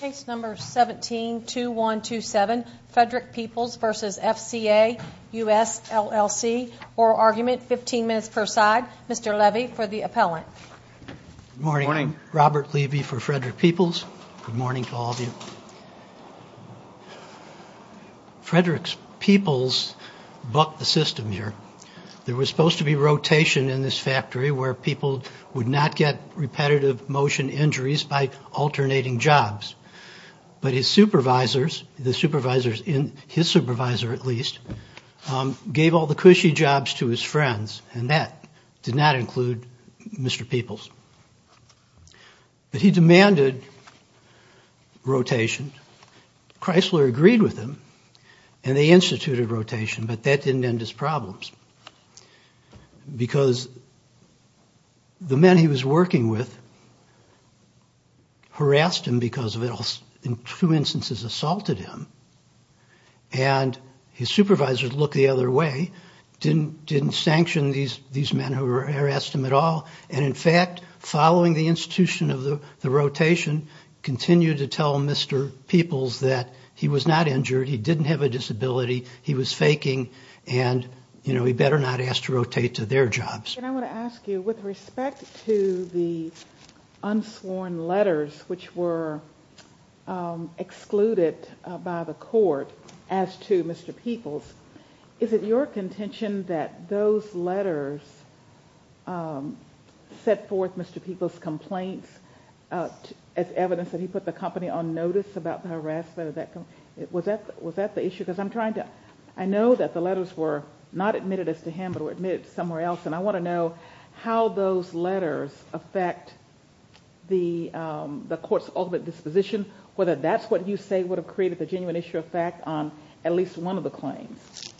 Case number 17-2127 Frederick Peoples v. FCA US LLC Oral argument, 15 minutes per side. Mr. Levy for the appellant. Good morning. Robert Levy for Frederick Peoples. Good morning to all of you. Frederick's Peoples bucked the system here. There was supposed to be rotation in this factory where people would not get repetitive motion injuries by alternating jobs. But his supervisors, his supervisor at least, gave all the cushy jobs to his friends. And that did not include Mr. Peoples. But he demanded rotation. Chrysler agreed with him and they instituted rotation, but that didn't end his problems. Because the men he was working with harassed him because of it, in two instances assaulted him. And his supervisors looked the other way, didn't sanction these men who harassed him at all. And in fact, following the institution of the rotation, continued to tell Mr. Peoples that he was not injured, he didn't have a disability, he was faking, and he better not ask to rotate to their jobs. And I want to ask you, with respect to the unsworn letters which were excluded by the court as to Mr. Peoples, is it your contention that those letters set forth Mr. Peoples' complaints as evidence that he put the company on notice about the harassment? Was that the issue? Because I know that the letters were not admitted as to him, but were admitted somewhere else. And I want to know how those letters affect the court's ultimate disposition, whether that's what you say would have created the genuine issue of fact on at least one of the claims.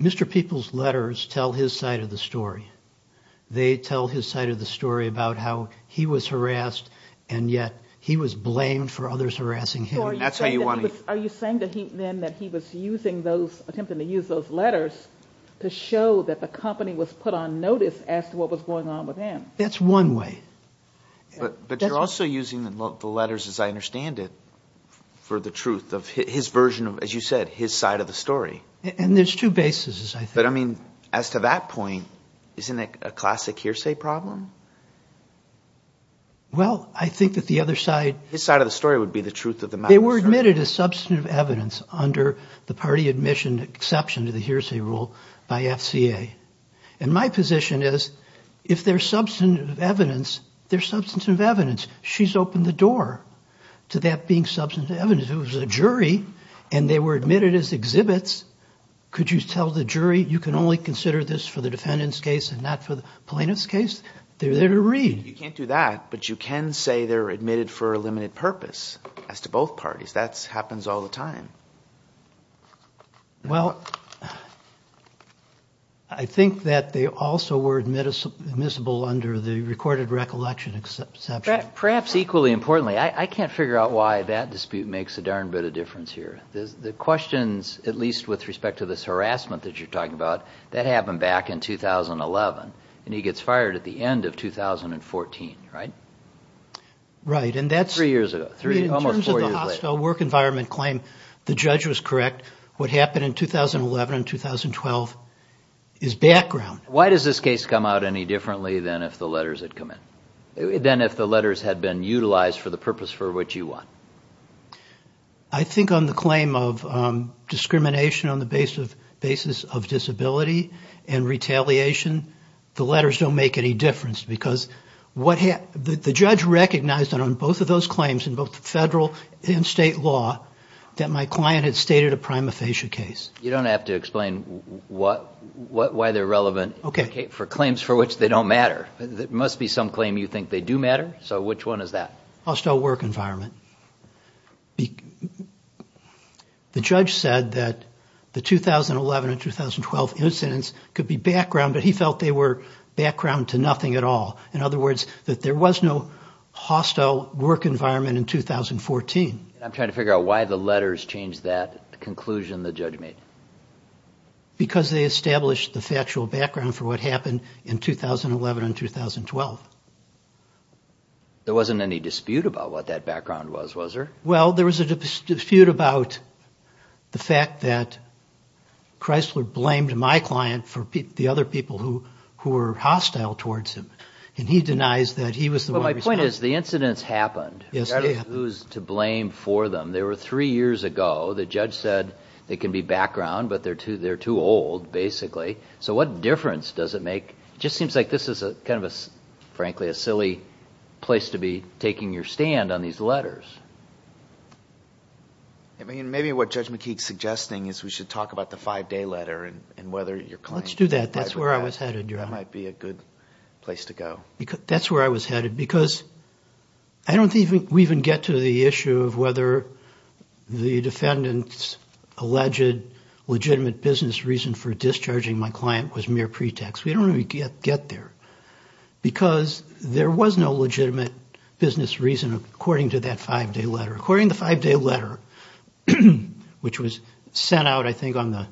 Mr. Peoples' letters tell his side of the story. They tell his side of the story about how he was harassed and yet he was blamed for others harassing him. Are you saying then that he was attempting to use those letters to show that the company was put on notice as to what was going on with him? That's one way. But you're also using the letters, as I understand it, for the truth of his version of, as you said, his side of the story. And there's two bases, I think. But, I mean, as to that point, isn't it a classic hearsay problem? Well, I think that the other side – His side of the story would be the truth of the matter. They were admitted as substantive evidence under the party admission exception to the hearsay rule by FCA. And my position is if they're substantive evidence, they're substantive evidence. She's opened the door to that being substantive evidence. If it was a jury and they were admitted as exhibits, could you tell the jury, you can only consider this for the defendant's case and not for the plaintiff's case? They're there to read. You can't do that, but you can say they're admitted for a limited purpose as to both parties. That happens all the time. Well, I think that they also were admissible under the recorded recollection exception. Perhaps equally importantly, I can't figure out why that dispute makes a darn bit of difference here. The questions, at least with respect to this harassment that you're talking about, that happened back in 2011. And he gets fired at the end of 2014, right? Right. Three years ago, almost four years later. The judge was correct. What happened in 2011 and 2012 is background. Why does this case come out any differently than if the letters had come in, than if the letters had been utilized for the purpose for which you won? I think on the claim of discrimination on the basis of disability and retaliation, the letters don't make any difference because the judge recognized that on both of those claims, in both federal and state law, that my client had stated a prima facie case. You don't have to explain why they're relevant for claims for which they don't matter. It must be some claim you think they do matter. So which one is that? Hostile work environment. The judge said that the 2011 and 2012 incidents could be background, but he felt they were background to nothing at all. In other words, that there was no hostile work environment in 2014. I'm trying to figure out why the letters changed that conclusion the judge made. Because they established the factual background for what happened in 2011 and 2012. There wasn't any dispute about what that background was, was there? Well, there was a dispute about the fact that Chrysler blamed my client for the other people who were hostile towards him, and he denies that he was the one responsible. Well, my point is the incidents happened. Yes, they happened. Who's to blame for them? They were three years ago. The judge said they can be background, but they're too old, basically. So what difference does it make? It just seems like this is kind of, frankly, a silly place to be taking your stand on these letters. Maybe what Judge McKeek is suggesting is we should talk about the five-day letter and whether your client is in favor of that. Let's do that. That's where I was headed, Your Honor. That might be a good place to go. That's where I was headed, because I don't think we even get to the issue of whether the defendant's alleged legitimate business reason for discharging my client was mere pretext. We don't even get there. Because there was no legitimate business reason according to that five-day letter. According to the five-day letter, which was sent out, I think, on the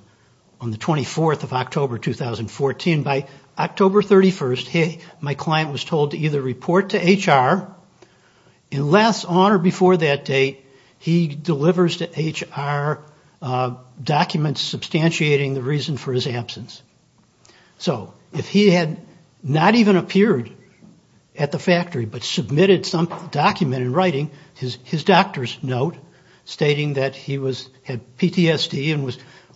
24th of October 2014, by October 31st, my client was told to either report to HR unless on or before that date he delivers to HR documents substantiating the reason for his absence. So if he had not even appeared at the factory but submitted some document in writing, his doctor's note stating that he had PTSD and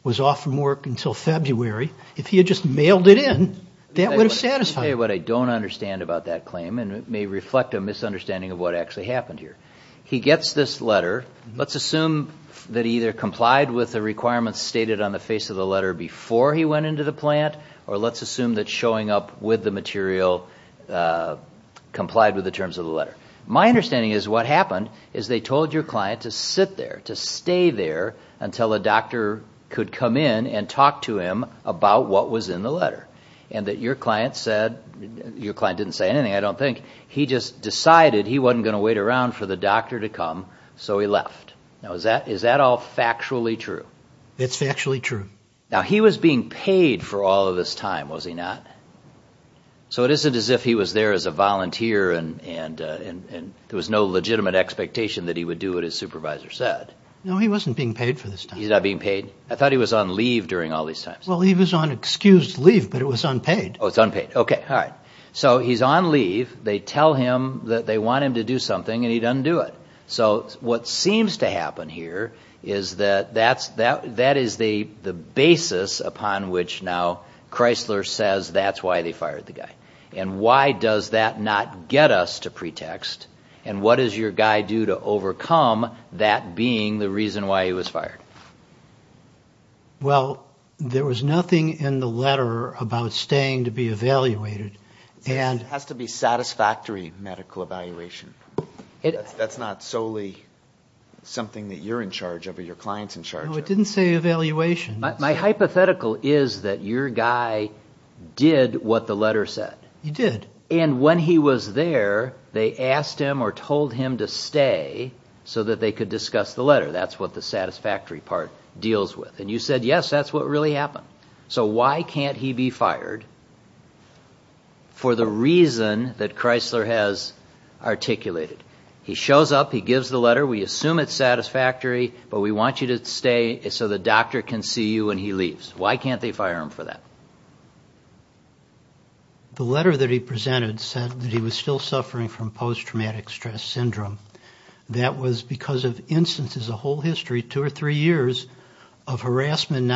was off from work until February, if he had just mailed it in, that would have satisfied him. Let me tell you what I don't understand about that claim, and it may reflect a misunderstanding of what actually happened here. He gets this letter. Let's assume that he either complied with the requirements stated on the face of the letter before he went into the plant, or let's assume that showing up with the material complied with the terms of the letter. My understanding is what happened is they told your client to sit there, to stay there until a doctor could come in and talk to him about what was in the letter, and that your client said, your client didn't say anything, I don't think, he just decided he wasn't going to wait around for the doctor to come, so he left. Now is that all factually true? It's factually true. Now he was being paid for all of this time, was he not? So it isn't as if he was there as a volunteer and there was no legitimate expectation that he would do what his supervisor said. No, he wasn't being paid for this time. He's not being paid? I thought he was on leave during all these times. Well, he was on excused leave, but it was unpaid. Oh, it's unpaid. Okay, all right. So he's on leave, they tell him that they want him to do something, and he doesn't do it. So what seems to happen here is that that is the basis upon which now Chrysler says that's why they fired the guy. And why does that not get us to pretext, and what does your guy do to overcome that being the reason why he was fired? Well, there was nothing in the letter about staying to be evaluated. It has to be satisfactory medical evaluation. That's not solely something that you're in charge of or your client's in charge of. No, it didn't say evaluation. My hypothetical is that your guy did what the letter said. He did. And when he was there, they asked him or told him to stay so that they could discuss the letter. That's what the satisfactory part deals with. And you said, yes, that's what really happened. So why can't he be fired for the reason that Chrysler has articulated? He shows up, he gives the letter, we assume it's satisfactory, but we want you to stay so the doctor can see you when he leaves. Why can't they fire him for that? The letter that he presented said that he was still suffering from post-traumatic stress syndrome. That was because of instances, a whole history, two or three years of harassment.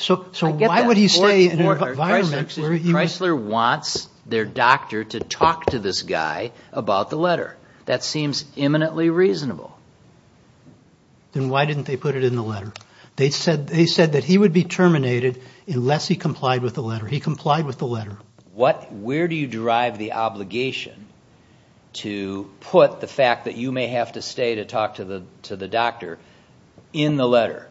So why would he stay in an environment where he was? Chrysler wants their doctor to talk to this guy about the letter. That seems imminently reasonable. Then why didn't they put it in the letter? They said that he would be terminated unless he complied with the letter. He complied with the letter. Where do you drive the obligation to put the fact that you may have to stay to talk to the doctor in the letter?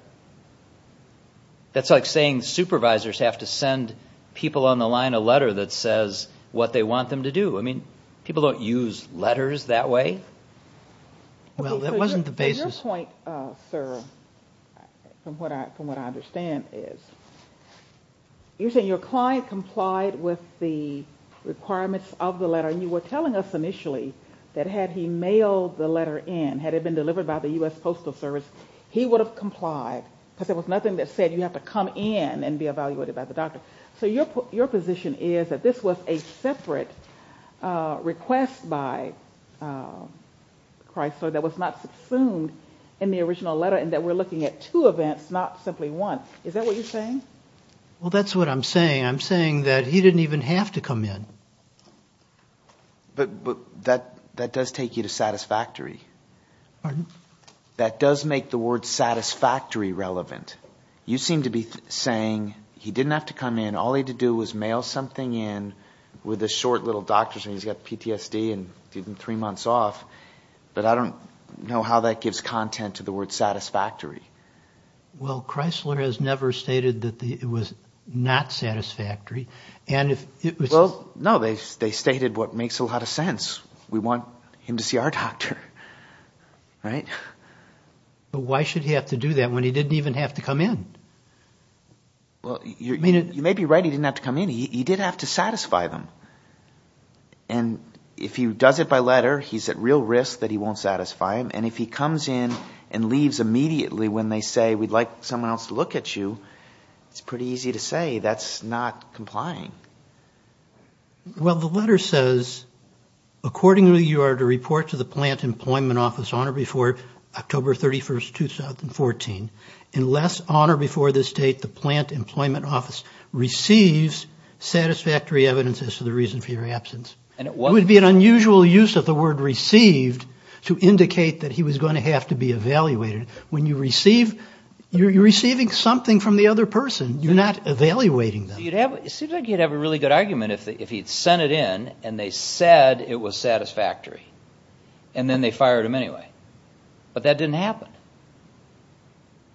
That's like saying supervisors have to send people on the line a letter that says what they want them to do. I mean, people don't use letters that way. Well, that wasn't the basis. Your point, sir, from what I understand is, you're saying your client complied with the requirements of the letter. You were telling us initially that had he mailed the letter in, had it been delivered by the U.S. Postal Service, he would have complied because there was nothing that said you have to come in and be evaluated by the doctor. So your position is that this was a separate request by Chrysler that was not subsumed in the original letter and that we're looking at two events, not simply one. Is that what you're saying? Well, that's what I'm saying. I'm saying that he didn't even have to come in. But that does take you to satisfactory. Pardon? That does make the word satisfactory relevant. You seem to be saying he didn't have to come in. All he had to do was mail something in with a short little doctor's note. He's got PTSD and three months off. But I don't know how that gives content to the word satisfactory. Well, Chrysler has never stated that it was not satisfactory. Well, no, they stated what makes a lot of sense. We want him to see our doctor, right? But why should he have to do that when he didn't even have to come in? Well, you may be right, he didn't have to come in. He did have to satisfy them. And if he does it by letter, he's at real risk that he won't satisfy them. And if he comes in and leaves immediately when they say, we'd like someone else to look at you, it's pretty easy to say that's not complying. Well, the letter says, accordingly you are to report to the Plant Employment Office on or before October 31, 2014. Unless on or before this date the Plant Employment Office receives satisfactory evidence as to the reason for your absence. It would be an unusual use of the word received to indicate that he was going to have to be evaluated. When you receive, you're receiving something from the other person. You're not evaluating them. It seems like he'd have a really good argument if he'd sent it in and they said it was satisfactory. And then they fired him anyway. But that didn't happen.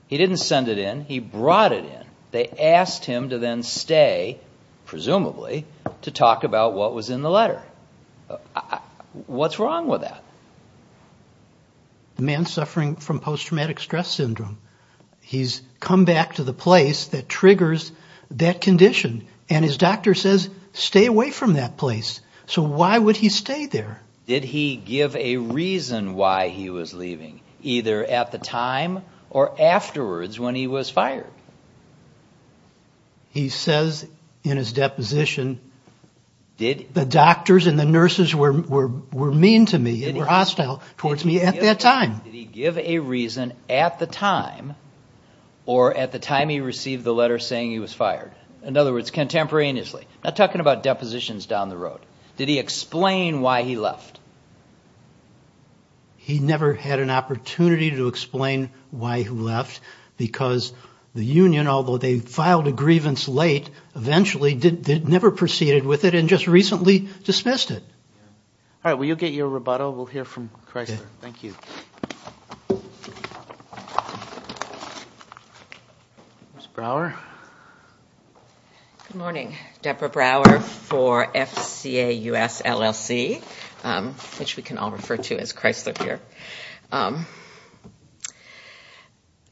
He didn't send it in, he brought it in. They asked him to then stay, presumably, to talk about what was in the letter. What's wrong with that? The man's suffering from post-traumatic stress syndrome. He's come back to the place that triggers that condition. And his doctor says, stay away from that place. So why would he stay there? Did he give a reason why he was leaving, either at the time or afterwards when he was fired? He says in his deposition, the doctors and the nurses were mean to me and were hostile towards me at that time. Did he give a reason at the time or at the time he received the letter saying he was fired? In other words, contemporaneously. Not talking about depositions down the road. Did he explain why he left? He never had an opportunity to explain why he left. Because the union, although they filed a grievance late, eventually never proceeded with it and just recently dismissed it. All right. Will you get your rebuttal? We'll hear from Chrysler. Thank you. Ms. Brower? Good morning. Debra Brower for FCA US LLC, which we can all refer to as Chrysler here.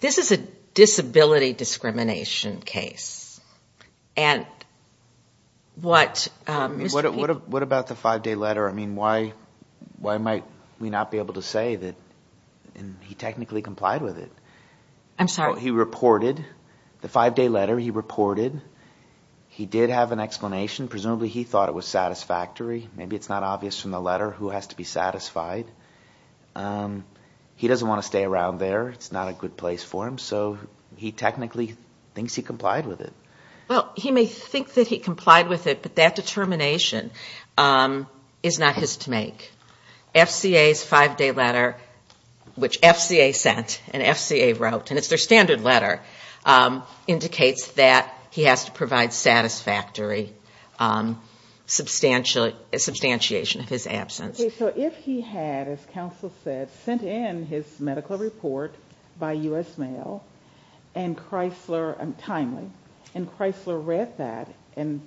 This is a disability discrimination case. And what Mr. Peep- What about the five-day letter? I mean, why might we not be able to say that he technically complied with it? I'm sorry? The five-day letter he reported, he did have an explanation. Presumably he thought it was satisfactory. Maybe it's not obvious from the letter who has to be satisfied. He doesn't want to stay around there. It's not a good place for him. So he technically thinks he complied with it. Well, he may think that he complied with it, but that determination is not his to make. FCA's five-day letter, which FCA sent and FCA wrote, and it's their standard letter, indicates that he has to provide satisfactory substantiation of his absence. Okay. So if he had, as counsel said, sent in his medical report by U.S. Mail and Chrysler, and timely, and Chrysler read that and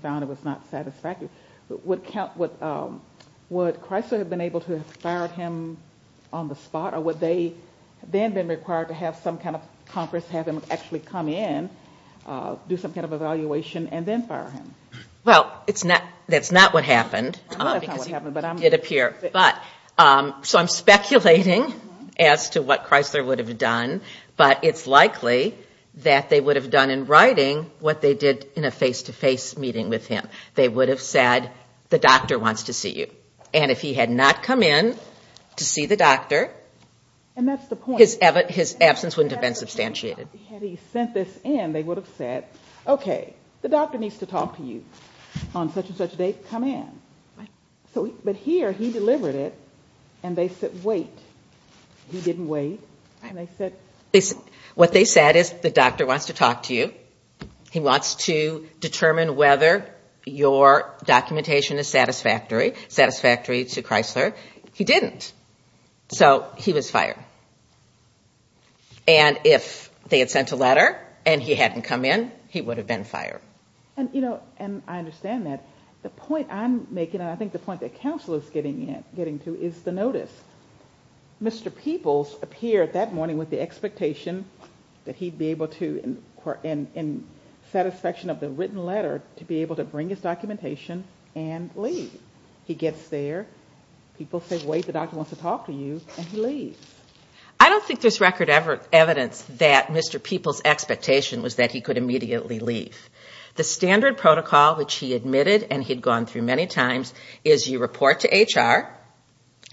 found it was not satisfactory, would Chrysler have been able to have fired him on the spot, or would they then have been required to have some kind of conference, have him actually come in, do some kind of evaluation, and then fire him? Well, that's not what happened. Well, that's not what happened, but I'm- It did appear. So I'm speculating as to what Chrysler would have done, but it's likely that they would have done in writing what they did in a face-to-face meeting with him. They would have said, the doctor wants to see you. And if he had not come in to see the doctor- And that's the point. His absence wouldn't have been substantiated. Had he sent this in, they would have said, okay, the doctor needs to talk to you on such and such a date. Come in. But here, he delivered it, and they said, wait. He didn't wait. And they said- What they said is, the doctor wants to talk to you. He wants to determine whether your documentation is satisfactory to Chrysler. He didn't. So he was fired. And if they had sent a letter and he hadn't come in, he would have been fired. And I understand that. The point I'm making, and I think the point that counsel is getting to, is the notice. Mr. Peebles appeared that morning with the expectation that he'd be able to, in satisfaction of the written letter, to be able to bring his documentation and leave. He gets there. People say, wait, the doctor wants to talk to you, and he leaves. I don't think there's record evidence that Mr. Peebles' expectation was that he could immediately leave. The standard protocol, which he admitted and he'd gone through many times, is you report to HR,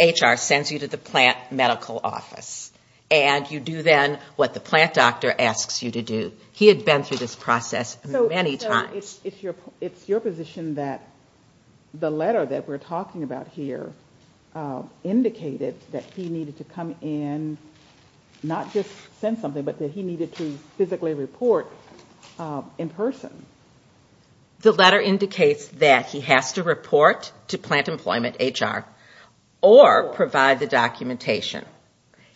HR sends you to the plant medical office, and you do then what the plant doctor asks you to do. He had been through this process many times. So it's your position that the letter that we're talking about here indicated that he needed to come in, not just send something, but that he needed to physically report in person. The letter indicates that he has to report to plant employment, HR, or provide the documentation.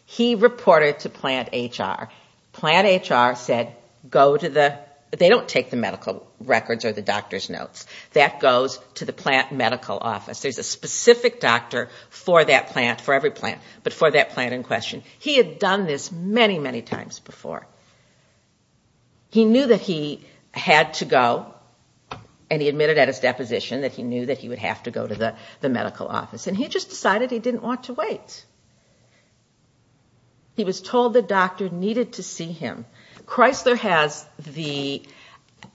He reported to plant HR. Plant HR said go to the they don't take the medical records or the doctor's notes. That goes to the plant medical office. There's a specific doctor for that plant, for every plant, but for that plant in question. He had done this many, many times before. He knew that he had to go, and he admitted at his deposition that he knew that he would have to go to the medical office. And he just decided he didn't want to wait. He was told the doctor needed to see him. Chrysler has the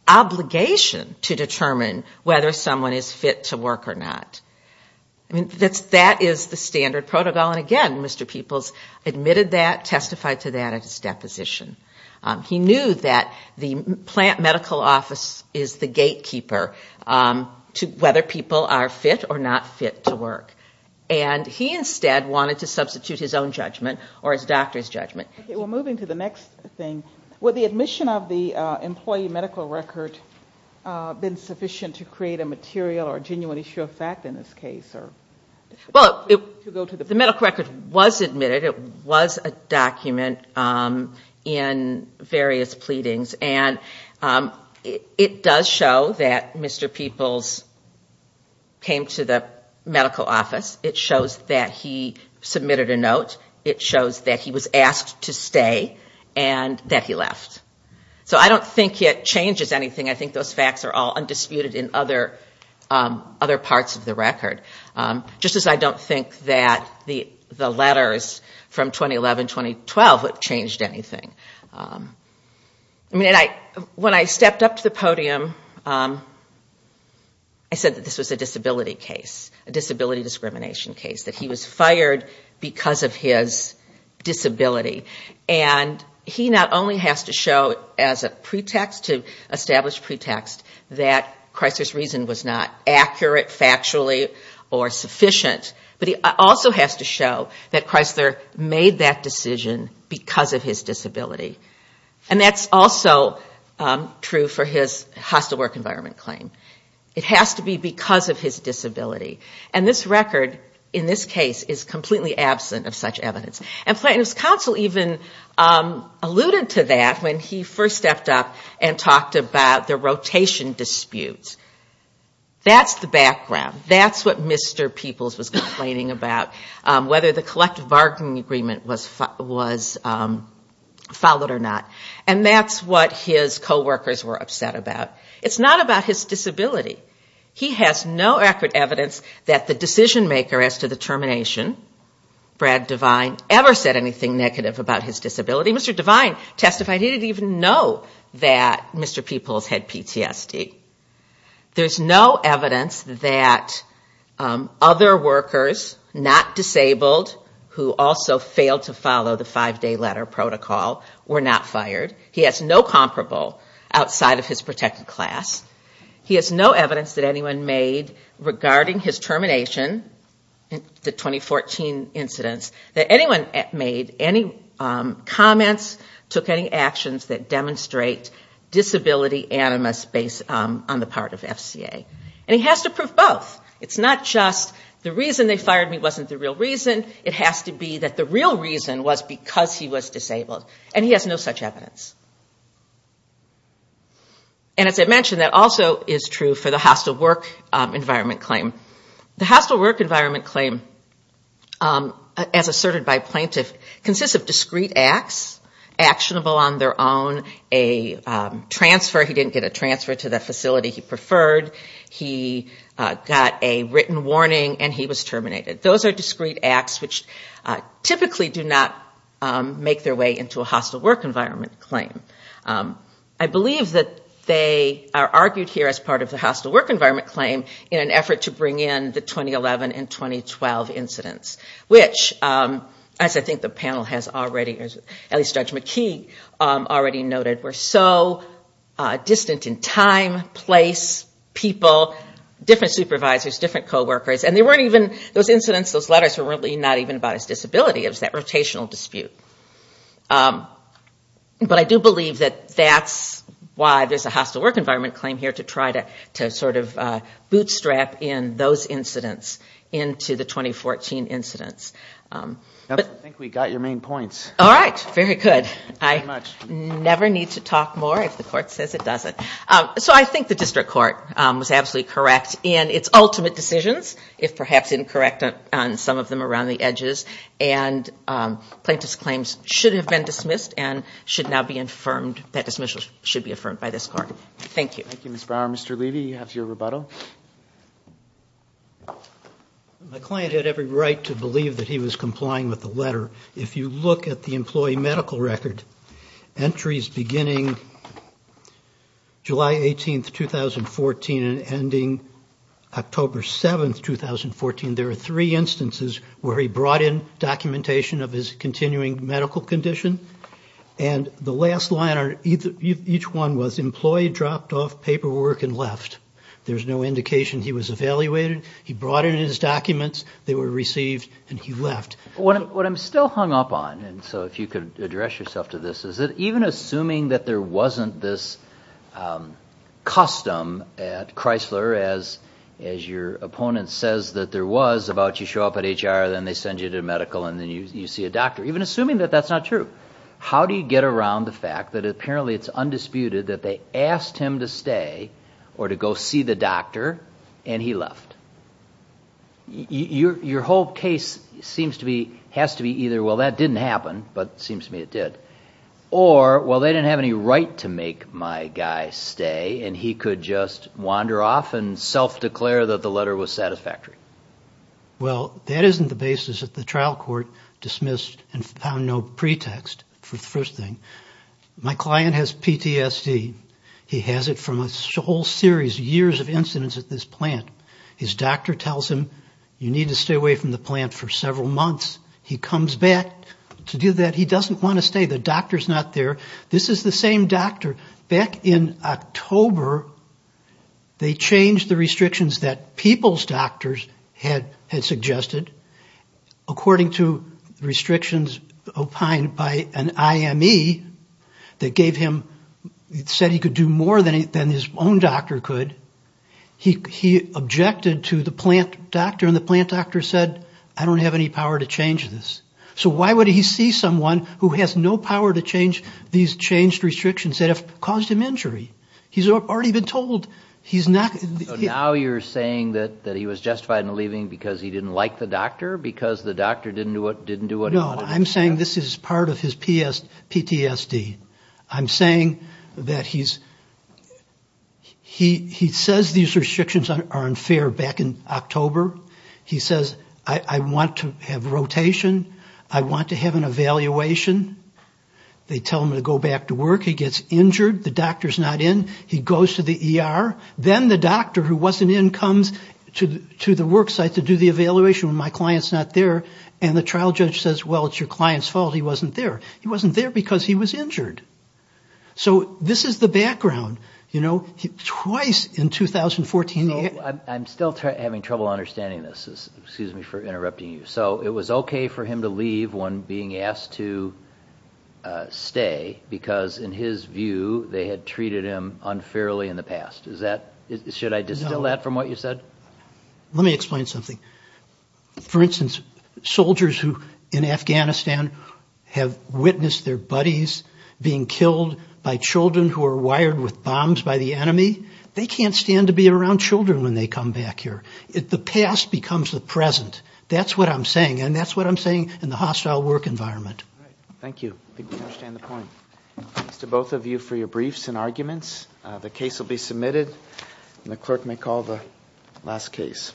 obligation to determine whether someone is fit to work or not. I mean, that is the standard protocol. And, again, Mr. Peoples admitted that, testified to that at his deposition. He knew that the plant medical office is the gatekeeper to whether people are fit or not fit to work. And he instead wanted to substitute his own judgment or his doctor's judgment. Okay, we're moving to the next thing. Would the admission of the employee medical record have been sufficient to create a material or genuine issue of fact in this case? Well, the medical record was admitted. It was a document in various pleadings. And it does show that Mr. Peoples came to the medical office. It shows that he submitted a note. It shows that he was asked to stay and that he left. So I don't think it changes anything. I think those facts are all undisputed in other parts of the record. Just as I don't think that the letters from 2011-2012 have changed anything. I mean, when I stepped up to the podium, I said that this was a disability case, a disability discrimination case, that he was fired because of his disability. And he not only has to show as a pretext to establish pretext that Chrysler's reason was not accurate factually or sufficient, but he also has to show that Chrysler made that decision because of his disability. And that's also true for his hostile work environment claim. It has to be because of his disability. And this record in this case is completely absent of such evidence. And Plaintiff's counsel even alluded to that when he first stepped up and talked about the rotation disputes. That's the background. That's what Mr. Peoples was complaining about, whether the collective bargaining agreement was followed or not. And that's what his coworkers were upset about. It's not about his disability. He has no accurate evidence that the decision-maker as to the termination, Brad Devine, ever said anything negative about his disability. Mr. Devine testified he didn't even know that Mr. Peoples had PTSD. There's no evidence that other workers, not disabled, who also failed to follow the five-day letter protocol, were not fired. He has no comparable outside of his protected class. He has no evidence that anyone made regarding his termination, the 2014 incidents, that anyone made any comments, took any actions that demonstrate disability animus on the part of FCA. And he has to prove both. It's not just the reason they fired me wasn't the real reason. It has to be that the real reason was because he was disabled. And he has no such evidence. And as I mentioned, that also is true for the hostile work environment claim. The hostile work environment claim, as asserted by plaintiff, consists of discrete acts, actionable on their own, a transfer. He didn't get a transfer to the facility he preferred. He got a written warning and he was terminated. Those are discrete acts which typically do not make their way into a hostile work environment claim. I believe that they are argued here as part of the hostile work environment claim in an effort to bring in the 2011 and 2012 incidents. Which, as I think the panel has already, at least Judge McKee already noted, were so distant in time, place, people, different supervisors, different coworkers, and they weren't even, those incidents, those letters were really not even about his disability. It was that rotational dispute. But I do believe that that's why there's a hostile work environment claim here to try to sort of bootstrap in those incidents into the 2014 incidents. I think we got your main points. All right. Very good. I never need to talk more if the court says it doesn't. So I think the district court was absolutely correct in its ultimate decisions, if perhaps incorrect on some of them around the edges, and plaintiff's claims should have been dismissed and should now be affirmed, that dismissal should be affirmed by this court. Thank you. Thank you, Ms. Brower. Mr. Levy, you have your rebuttal. My client had every right to believe that he was complying with the letter. If you look at the employee medical record, entries beginning July 18th, 2014, and ending October 7th, 2014, there are three instances where he brought in documentation of his continuing medical condition, and the last line on each one was employee dropped off paperwork and left. There's no indication he was evaluated. He brought in his documents. They were received, and he left. What I'm still hung up on, and so if you could address yourself to this, is that even assuming that there wasn't this custom at Chrysler, as your opponent says that there was about you show up at HR, then they send you to medical, and then you see a doctor, even assuming that that's not true, how do you get around the fact that apparently it's undisputed that they asked him to stay or to go see the doctor, and he left? Your whole case has to be either, well, that didn't happen, but it seems to me it did, or, well, they didn't have any right to make my guy stay, and he could just wander off and self-declare that the letter was satisfactory. Well, that isn't the basis that the trial court dismissed and found no pretext for the first thing. My client has PTSD. He has it from a whole series of years of incidents at this plant. His doctor tells him, you need to stay away from the plant for several months. He comes back to do that. He doesn't want to stay. The doctor's not there. This is the same doctor. Back in October, they changed the restrictions that people's doctors had suggested, according to restrictions opined by an IME that gave him, said he could do more than his own doctor could. He objected to the plant doctor, and the plant doctor said, I don't have any power to change this. So why would he see someone who has no power to change these changed restrictions that have caused him injury? He's already been told. So now you're saying that he was justified in leaving because he didn't like the doctor, because the doctor didn't do what he wanted him to do? No, I'm saying this is part of his PTSD. I'm saying that he says these restrictions are unfair back in October. He says, I want to have rotation. I want to have an evaluation. They tell him to go back to work. He gets injured. The doctor's not in. He goes to the ER. Then the doctor who wasn't in comes to the work site to do the evaluation when my client's not there, and the trial judge says, well, it's your client's fault he wasn't there. He wasn't there because he was injured. So this is the background. Twice in 2014. I'm still having trouble understanding this. Excuse me for interrupting you. So it was okay for him to leave when being asked to stay because, in his view, they had treated him unfairly in the past. Should I distill that from what you said? Let me explain something. For instance, soldiers in Afghanistan have witnessed their buddies being killed by children who are wired with bombs by the enemy. They can't stand to be around children when they come back here. The past becomes the present. That's what I'm saying, and that's what I'm saying in the hostile work environment. Thank you. I think we understand the point. Thanks to both of you for your briefs and arguments. The case will be submitted, and the clerk may call the last case.